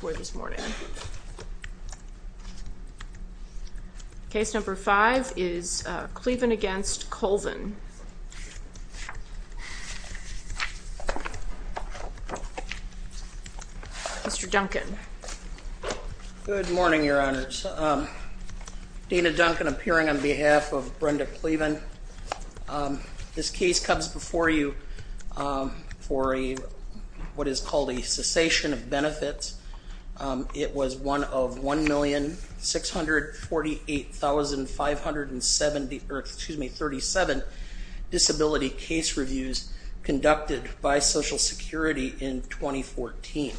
Boyd this morning. Case number five is Kleven against Colvin. Mr. Duncan. Good morning your honors. Dina Duncan appearing on behalf of Brenda Benefits. It was one of 1,648,537 disability case reviews conducted by Social Security in 2014.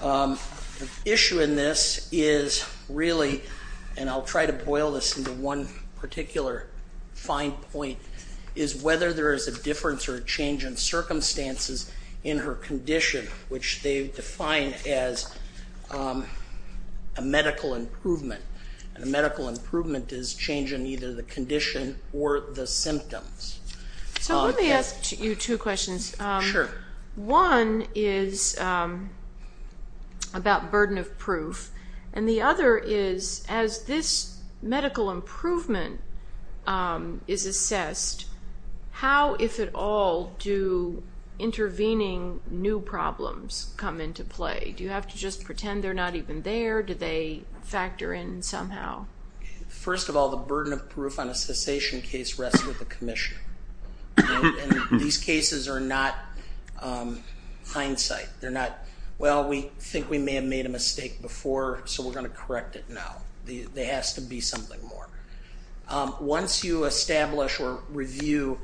The issue in this is really, and I'll try to boil this into one particular fine point, is whether there is a difference or a change in circumstances in her condition which they define as a medical improvement. A medical improvement is change in either the condition or the symptoms. Let me ask you two questions. One is about burden of proof and the other is as this medical improvement is assessed, how, if at all, do intervening new problems come into play? Do you have to just pretend they're not even there? Do they factor in somehow? First of all, the burden of proof on a cessation case rests with the commissioner. These cases are not hindsight. They're not, well we think we may have made a mistake before so we're going to correct it now. There has to be something more. Once you establish or review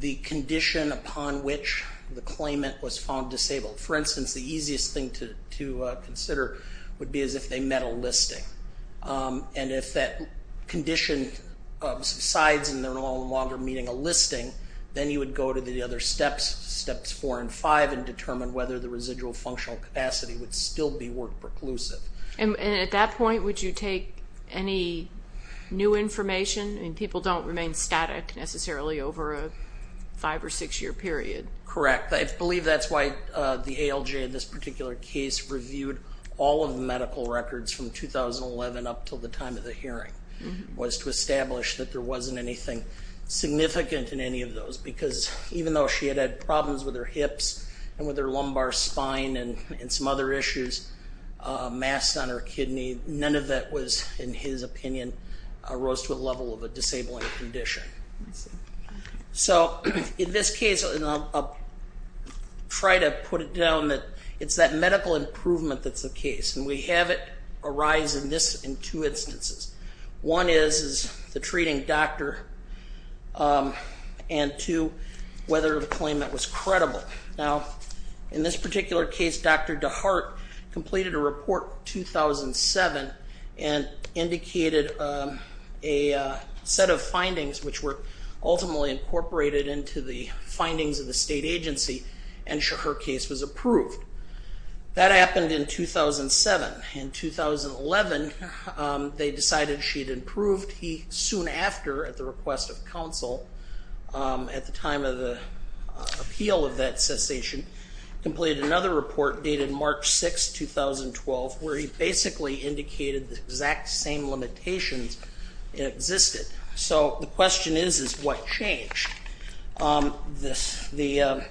the condition upon which the claimant was found disabled, for instance, the easiest thing to consider would be as if they met a listing. If that condition subsides and they're no longer meeting a listing, then you would go to the other steps, steps four and five, and determine whether the residual functional capacity would still be work preclusive. And at that point, would you take any new information? I mean, people don't remain static necessarily over a five or six year period. Correct. I believe that's why the ALJ in this particular case reviewed all of the medical records from 2011 up until the time of the hearing, was to establish that there wasn't anything significant in any of those because even though she had had problems with her breast, on her kidney, none of that was, in his opinion, arose to the level of a disabling condition. So in this case, I'll try to put it down that it's that medical improvement that's the case and we have it arise in this, in two instances. One is the treating doctor and two, whether the claimant was credible. Now in this particular case, Dr. DeHart completed a report in 2007 and indicated a set of findings which were ultimately incorporated into the findings of the state agency and her case was approved. That happened in 2007. In 2011, they decided she'd improved. He soon after, at the request of counsel, at the time of appeal of that cessation, completed another report dated March 6, 2012, where he basically indicated the exact same limitations existed. So the question is, is what changed? The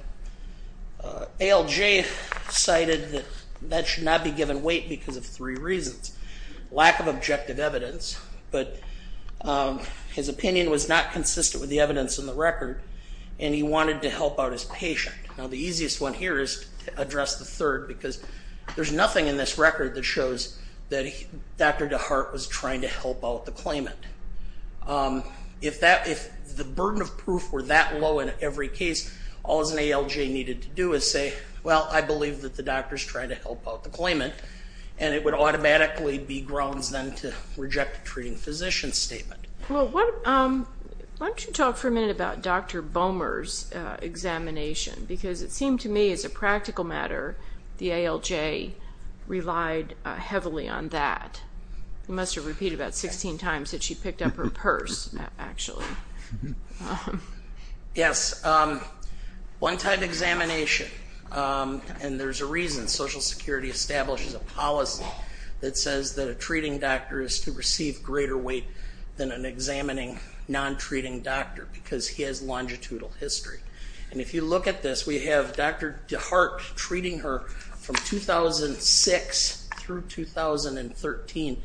ALJ cited that that should not be given weight because of three reasons. Lack of objective wanted to help out his patient. Now the easiest one here is to address the third because there's nothing in this record that shows that Dr. DeHart was trying to help out the claimant. If that, if the burden of proof were that low in every case, all an ALJ needed to do is say, well, I believe that the doctor's trying to help out the claimant and it would automatically be grounds then to reject the treating physician statement. Well, why don't you talk for a minute about Dr. Bomer's examination because it seemed to me as a practical matter, the ALJ relied heavily on that. You must have repeated that 16 times that she picked up her purse, actually. Yes. One type of examination, and there's a reason. Social Security establishes a policy that says that a treating doctor is to receive greater weight than an examining non-treating doctor because he has longitudinal history. And if you look at this, we have Dr. DeHart treating her from 2006 through 2013.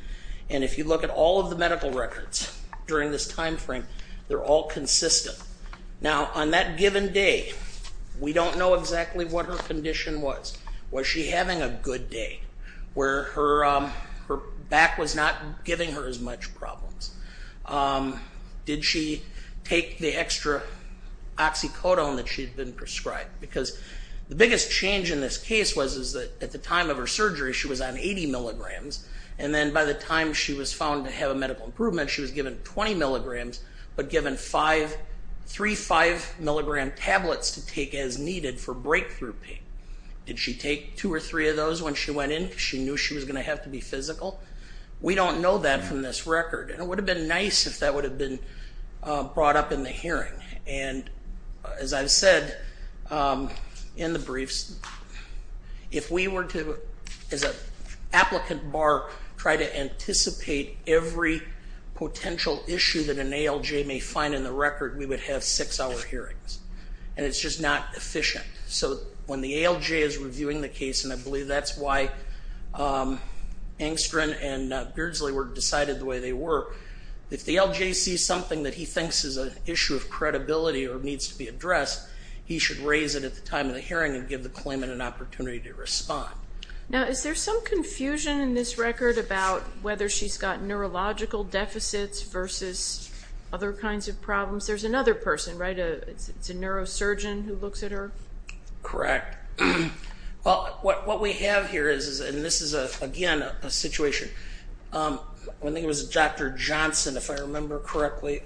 And if you look at all of the medical records during this timeframe, they're all consistent. Now on that given day, we don't know exactly what her condition was. Was she having a good day, where her back was not giving her as much problems? Did she take the extra oxycodone that she'd been prescribed? Because the biggest change in this case was, is that at the time of her surgery, she was on 80 milligrams. And then by the time she was found to have a medical improvement, she was given 20 milligrams, but given three 5 milligram tablets to take as needed for breakthrough pain. Did she take two or three of those when she went in? She knew she was going to have to be physical. We don't know that from this record. And it would have been nice if that would have been brought up in the hearing. And as I've said in the briefs, if we were to, as an applicant bar, try to see what the ALJ may find in the record, we would have six-hour hearings. And it's just not efficient. So when the ALJ is reviewing the case, and I believe that's why Angstren and Beardsley were decided the way they were, if the ALJ sees something that he thinks is an issue of credibility or needs to be addressed, he should raise it at the time of the hearing and give the claimant an opportunity to respond. Now is there some confusion in this record about whether she's got neurological deficits versus other kinds of problems? There's another person, right? It's a neurosurgeon who looks at her? Correct. Well, what we have here is, and this is again a situation, I think it was Dr. Johnson, if I remember correctly,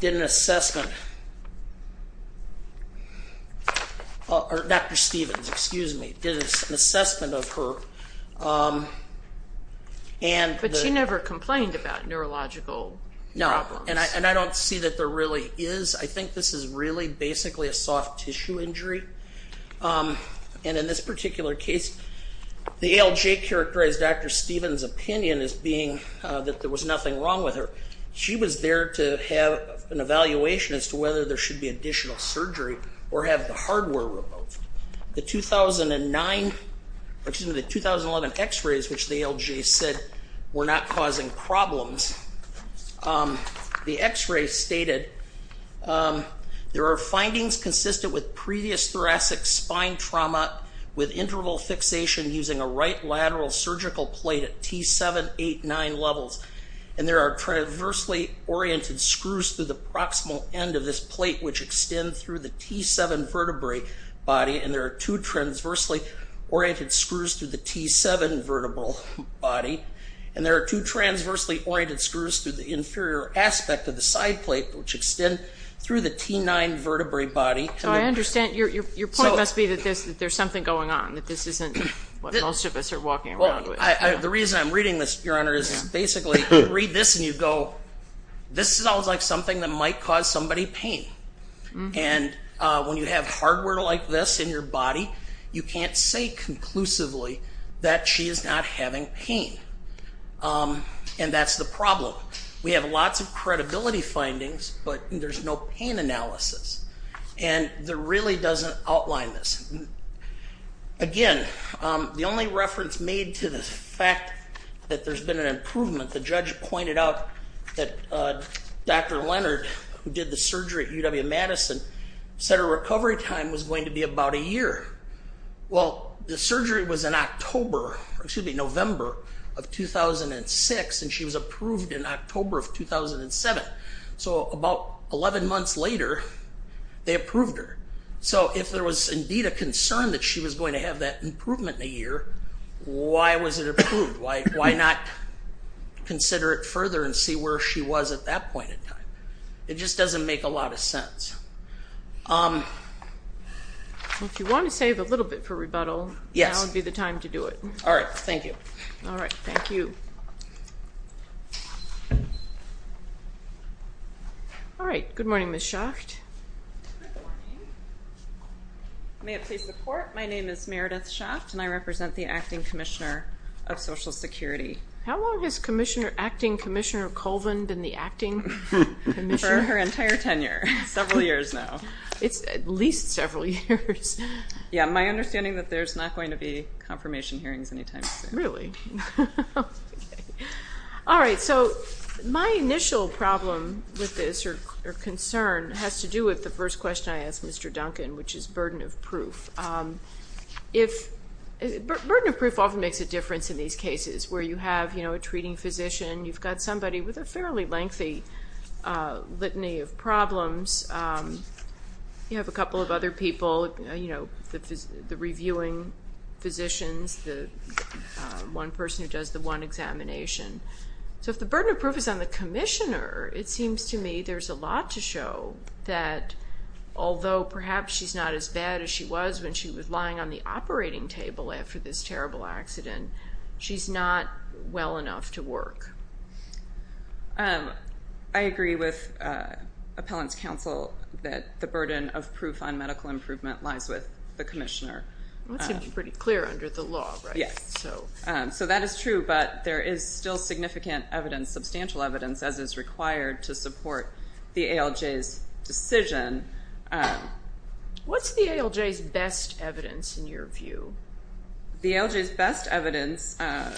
did an assessment, or Dr. Stevens, excuse me, did an assessment of her. But she never complained about neurological problems. No, and I don't see that there really is. I think this is really basically a soft tissue injury. And in this particular case, the ALJ characterized Dr. Stevens' opinion as being that there was nothing wrong with her. She was there to have an evaluation as to whether there should be additional surgery or have the hardware removed. The 2009, excuse me, the 2011 x-rays, which the ALJ said were not causing problems, the x-ray stated, there are findings consistent with previous thoracic spine trauma with interval fixation using a right lateral surgical plate at T7, 8, 9 levels. And there are traversally oriented screws through the proximal end of this plate, which extend through the T7 vertebrae body. And there are two transversely oriented screws through the T7 vertebral body. And there are two transversely oriented screws through the inferior aspect of the side plate, which extend through the T9 vertebrae body. So I understand, your point must be that there's something going on, that this isn't what most of us are walking around with. The reason I'm reading this, your honor, is basically you read this and you go, this sounds like something that might cause somebody pain. And when you have hardware like this in your body, you can't say conclusively that she is not having pain. And that's the problem. We have lots of credibility findings, but there's no pain analysis. And there really doesn't outline this. Again, the only reference made to the fact that there's been an improvement, the judge pointed out that Dr. Leonard, who did the surgery at UW-Madison, said her recovery time was going to be about a year. Well, the surgery was in October, excuse me, November of 2006, and she was approved in October of 2007. So about 11 months later, they approved her. So if there was indeed a concern that she was going to have that improvement in a year, why was it approved? Why not consider it further and see where she was at that point in time? It just doesn't make a lot of sense. If you want to save a little bit for rebuttal, now would be the time to do it. Yes. All right. Thank you. All right. Thank you. All right. Good morning, Ms. Schacht. Good morning. May it please the Court, my name is Meredith Schacht and I represent the Acting Commissioner of Social Security. How long has Acting Commissioner Colvin been the Acting Commissioner? For her entire tenure. Several years now. It's at least several years. Yeah, my understanding is that there's not going to be confirmation hearings anytime soon. Really? Okay. All right. So my initial problem with this, or concern, has to do with the first question I asked Mr. Duncan, which is burden of proof. Burden of proof often makes a difference in these cases where you have, you know, a treating physician, you've got somebody with a fairly lengthy litany of problems. You have a couple of other people, you know, the reviewing physicians, the one person who does the one examination. So if the burden of proof is on the Commissioner, it seems to me there's a lot to show that although perhaps she's not as bad as she was when she was lying on the operating table after this terrible accident, she's not well enough to work. I agree with Appellant's counsel that the I'm pretty clear under the law, right? Yes. So that is true, but there is still significant evidence, substantial evidence, as is required to support the ALJ's decision. What's the ALJ's best evidence in your view? The ALJ's best evidence, I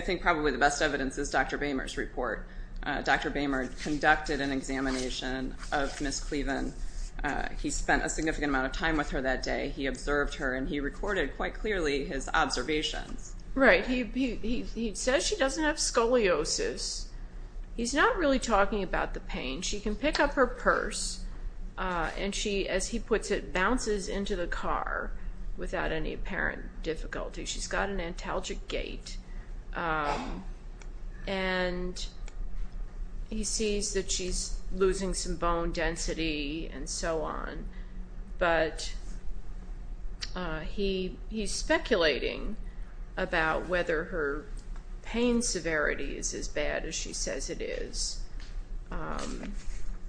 think probably the best evidence is Dr. Boehmer's report. Dr. Boehmer conducted an examination of Ms. He recorded quite clearly his observations. Right. He says she doesn't have scoliosis. He's not really talking about the pain. She can pick up her purse and she, as he puts it, bounces into the car without any apparent difficulty. She's got an antalgic gait and he sees that she's losing some bone density and so on, but he's speculating about whether her pain severity is as bad as she says it is.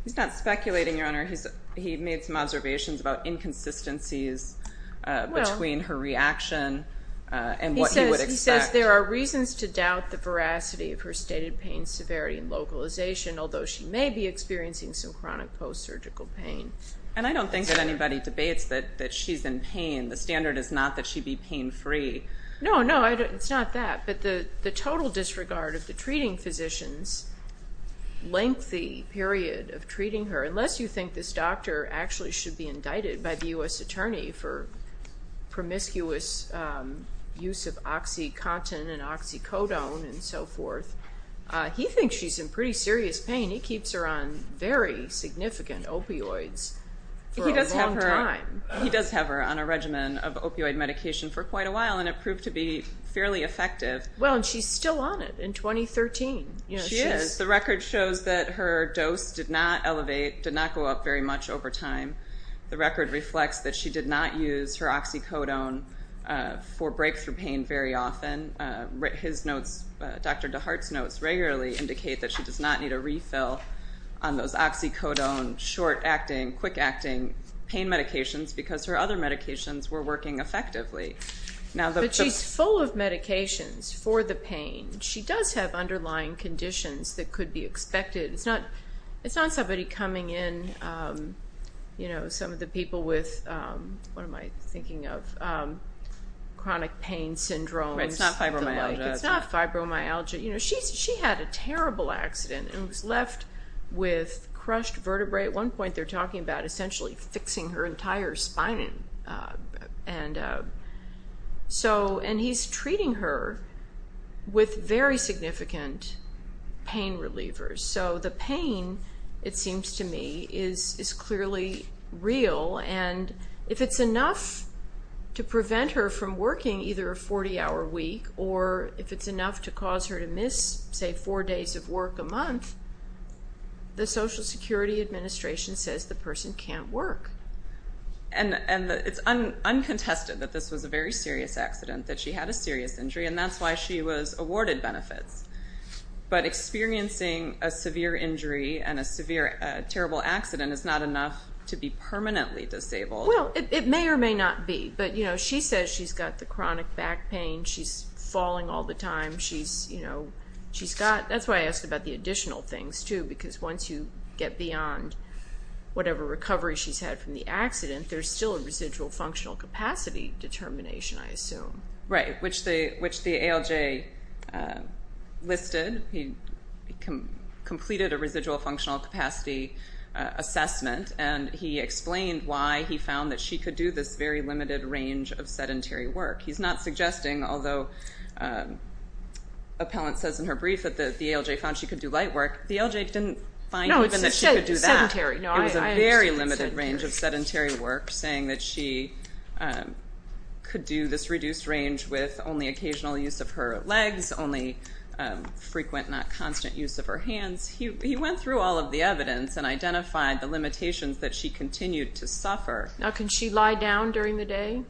He's not speculating, Your Honor. He made some observations about inconsistencies between her reaction and what he would expect. He may be experiencing some chronic post-surgical pain. And I don't think that anybody debates that she's in pain. The standard is not that she be pain-free. No, no, it's not that. But the total disregard of the treating physicians, lengthy period of treating her, unless you think this doctor actually should be indicted by the U.S. Attorney for promiscuous use of oxycontin and oxycodone and so forth, he thinks she's in pretty serious pain. He keeps her on very significant opioids for a long time. He does have her on a regimen of opioid medication for quite a while and it proved to be fairly effective. Well, and she's still on it in 2013. She is. The record shows that her dose did not elevate, did not go up very much over time. The record reflects that she did not use her oxycodone for breakthrough pain very often. His notes, Dr. DeHart's notes, regularly indicate that she does not need a refill on those oxycodone short-acting, quick-acting pain medications because her other medications were working effectively. But she's full of medications for the pain. She does have underlying conditions that could be expected. It's not somebody coming in, you know, some of the people with, what am I thinking of, chronic pain syndromes. It's not fibromyalgia. It's not fibromyalgia. You know, she had a terrible accident and was left with crushed vertebrae. At one point, they're talking about essentially fixing her entire spine. And he's treating her with very significant pain relievers. So the pain, it seems to me, is clearly real. And if it's enough to prevent her from working either a 40-hour week or if it's enough to cause her to miss, say, four days of work a month, the Social Security Administration says the person can't work. And it's uncontested that this was a very serious accident, that she had a serious injury, and that's why she was awarded benefits. But experiencing a severe injury and a terrible accident is not enough to be permanently disabled. Well, it may or may not be. But, you know, she says she's got the chronic back pain. She's falling all the time. She's, you know, she's got... That's why I asked about the additional things, too, because once you get beyond whatever recovery she's had from the accident, there's still a residual functional capacity determination, I assume. Right, which the ALJ listed. He completed a residual functional capacity, which was an assessment, and he explained why he found that she could do this very limited range of sedentary work. He's not suggesting, although appellant says in her brief that the ALJ found she could do light work, the ALJ didn't find even that she could do that. No, it's sedentary. It was a very limited range of sedentary work, saying that she could do this reduced range with only occasional use of her legs, only frequent, not constant, use of her hands. He went through all of the evidence and identified the limitations that she continued to suffer. Now, can she lie down during the day?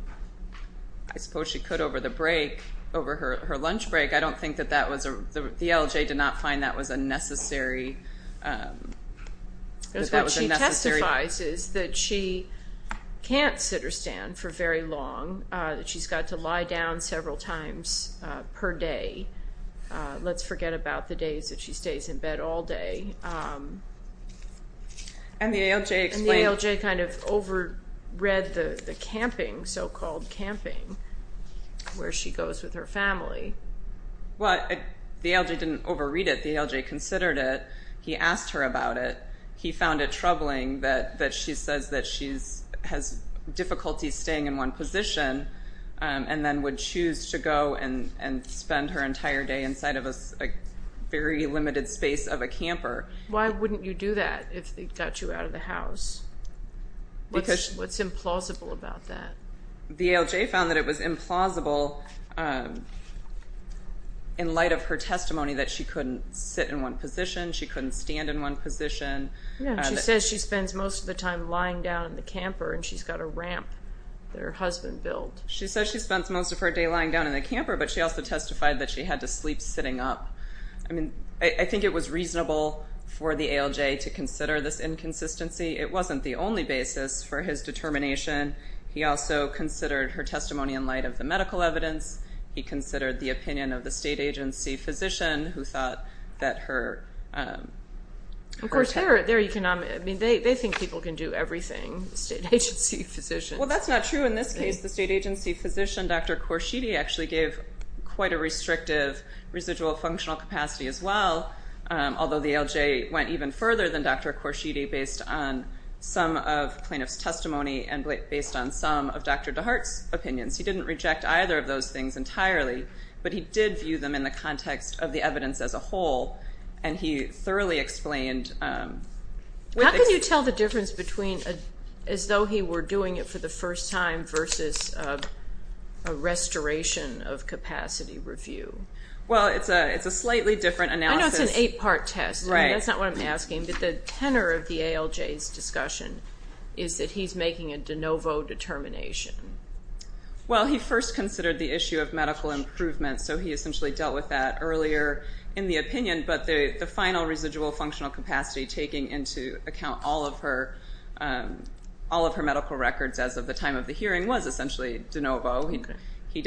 I suppose she could over the break, over her lunch break. I don't think that that was... The ALJ did not find that was a necessary... What she testifies is that she can't sit or stand for very long, that she's got to lie down several times per day. Let's forget about the days that she stays in bed all day. And the ALJ explained... And the ALJ kind of over-read the camping, so-called camping, where she goes with her family. Well, the ALJ didn't over-read it. The ALJ considered it. He asked her about it. He found it troubling that she says that she has difficulty staying in one position and then would choose to go and spend her entire day inside of a very limited space of a camper. Why wouldn't you do that if they got you out of the house? What's implausible about that? The ALJ found that it was implausible in light of her testimony that she couldn't sit in one position. Yeah, and she says she spends most of the time lying down in the camper and she's got a ramp that her husband built. She says she spends most of her day lying down in the camper, but she also testified that she had to sleep sitting up. I mean, I think it was reasonable for the ALJ to consider this inconsistency. It wasn't the only basis for his determination. He also considered her testimony in light of the medical evidence. He considered the opinion of the state agency physician who thought that her... Of course, they're economic. I mean, they think people can do everything, state agency physicians. Well, that's not true in this case. The state agency physician, Dr. Korshidi, actually gave quite a restrictive residual functional capacity as well, although the ALJ went even further than Dr. Korshidi based on some of plaintiff's testimony and based on some of Dr. DeHart's testimony. And he thoroughly explained... How can you tell the difference between as though he were doing it for the first time versus a restoration of capacity review? Well, it's a slightly different analysis. I know it's an eight-part test, and that's not what I'm asking, but the tenor of the ALJ's discussion is that he's making a de novo determination. Well, he first considered the issue of medical improvement, so he essentially dealt with that earlier in the opinion, but the final residual functional capacity taking into account all of her medical records as of the time of the hearing was essentially de novo. He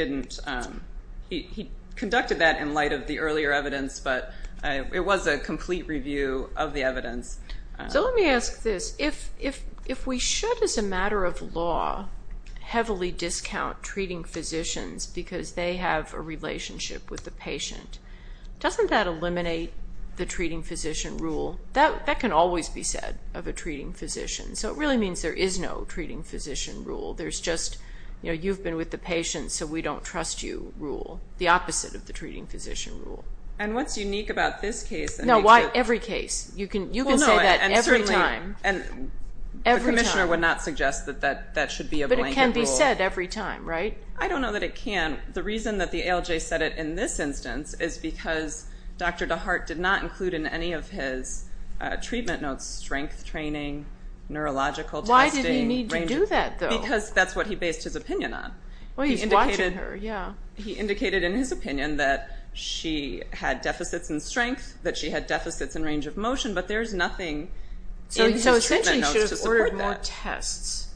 conducted that in light of the earlier evidence, but it was a complete review of the evidence. So let me ask this. If we should, as a matter of law, heavily discount treating physicians because they have a relationship with the patient, doesn't that eliminate the treating physician rule? That can always be said of a treating physician, so it really means there is no treating physician rule. There's just, you know, you've been with the patient so we don't trust you rule, the opposite of the treating physician rule. And what's unique about this case... No, every case. You can say that every time. And certainly the commissioner would not suggest that that should be a blanket rule. But it can be said every time, right? I don't know that it can. The reason that the ALJ said it in this instance is because Dr. DeHart did not include in any of his treatment notes strength training, neurological testing... Why did he need to do that, though? Because that's what he based his opinion on. Well, he's watching her, yeah. He indicated in his opinion that she had deficits in strength, that she had deficits in range of motion, but there's nothing in his treatment notes to support that. Outside tests,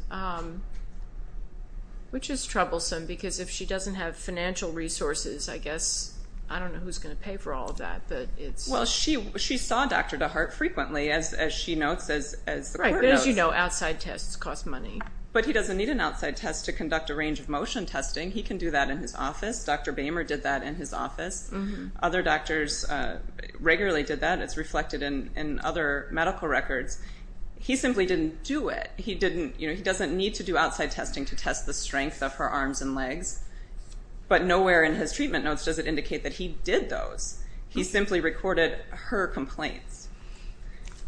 which is troublesome because if she doesn't have financial resources, I guess, I don't know who's going to pay for all of that, but it's... Well, she saw Dr. DeHart frequently, as she notes, as the court notes. Right, but as you know, outside tests cost money. But he doesn't need an outside test to conduct a range of motion testing. He can do that in his office. Dr. Boehmer did that in his office. Other doctors regularly did that. It's reflected in other medical records. He simply didn't do it. He doesn't need to do outside testing to test the strength of her arms and legs, but nowhere in his treatment notes does it indicate that he did those. He simply recorded her complaints.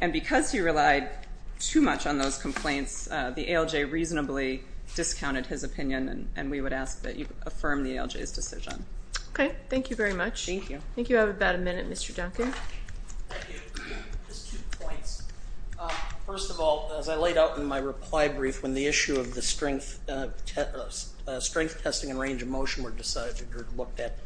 And because he relied too much on those complaints, the ALJ reasonably discounted his opinion, and we would ask that you affirm the ALJ's decision. Okay, thank you very much. Thank you. Thank you. I think you have about a minute, Mr. Duncan. Thank you. Just two points. First of all, as I laid out in my reply brief, when the issue of the strength testing and range of motion were decided or looked at,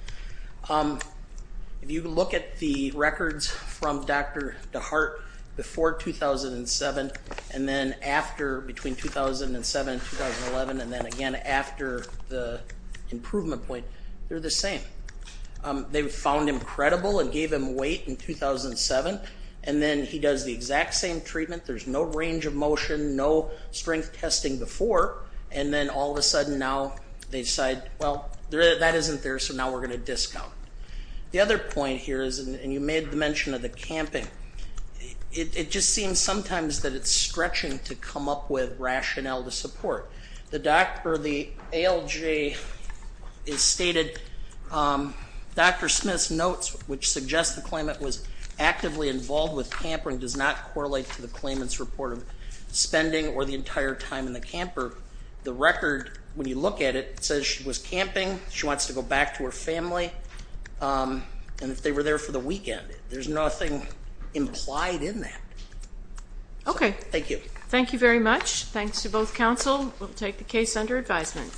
if you look at the records from Dr. DeHart before 2007, and then after, between 2007 and 2011, and then again after the improvement point, they're the same. They found him credible and gave him weight in 2007, and then he does the exact same treatment. There's no range of motion, no strength testing before, and then all of a sudden now they decide, well, that isn't there, so now we're going to discount. The other point here is, and you made the mention of the camping, it just seems sometimes that it's stretching to come up with rationale to support. The ALJ stated, Dr. Smith's notes, which suggest the claimant was actively involved with camping, does not correlate to the claimant's report of spending or the entire time in the camper. The record, when you look at it, says she was camping, she wants to go back to her family, and if they were there for the weekend. There's nothing implied in that. Okay. Thank you. Thank you very much. Thanks to both counsel. We'll take the case under advisement.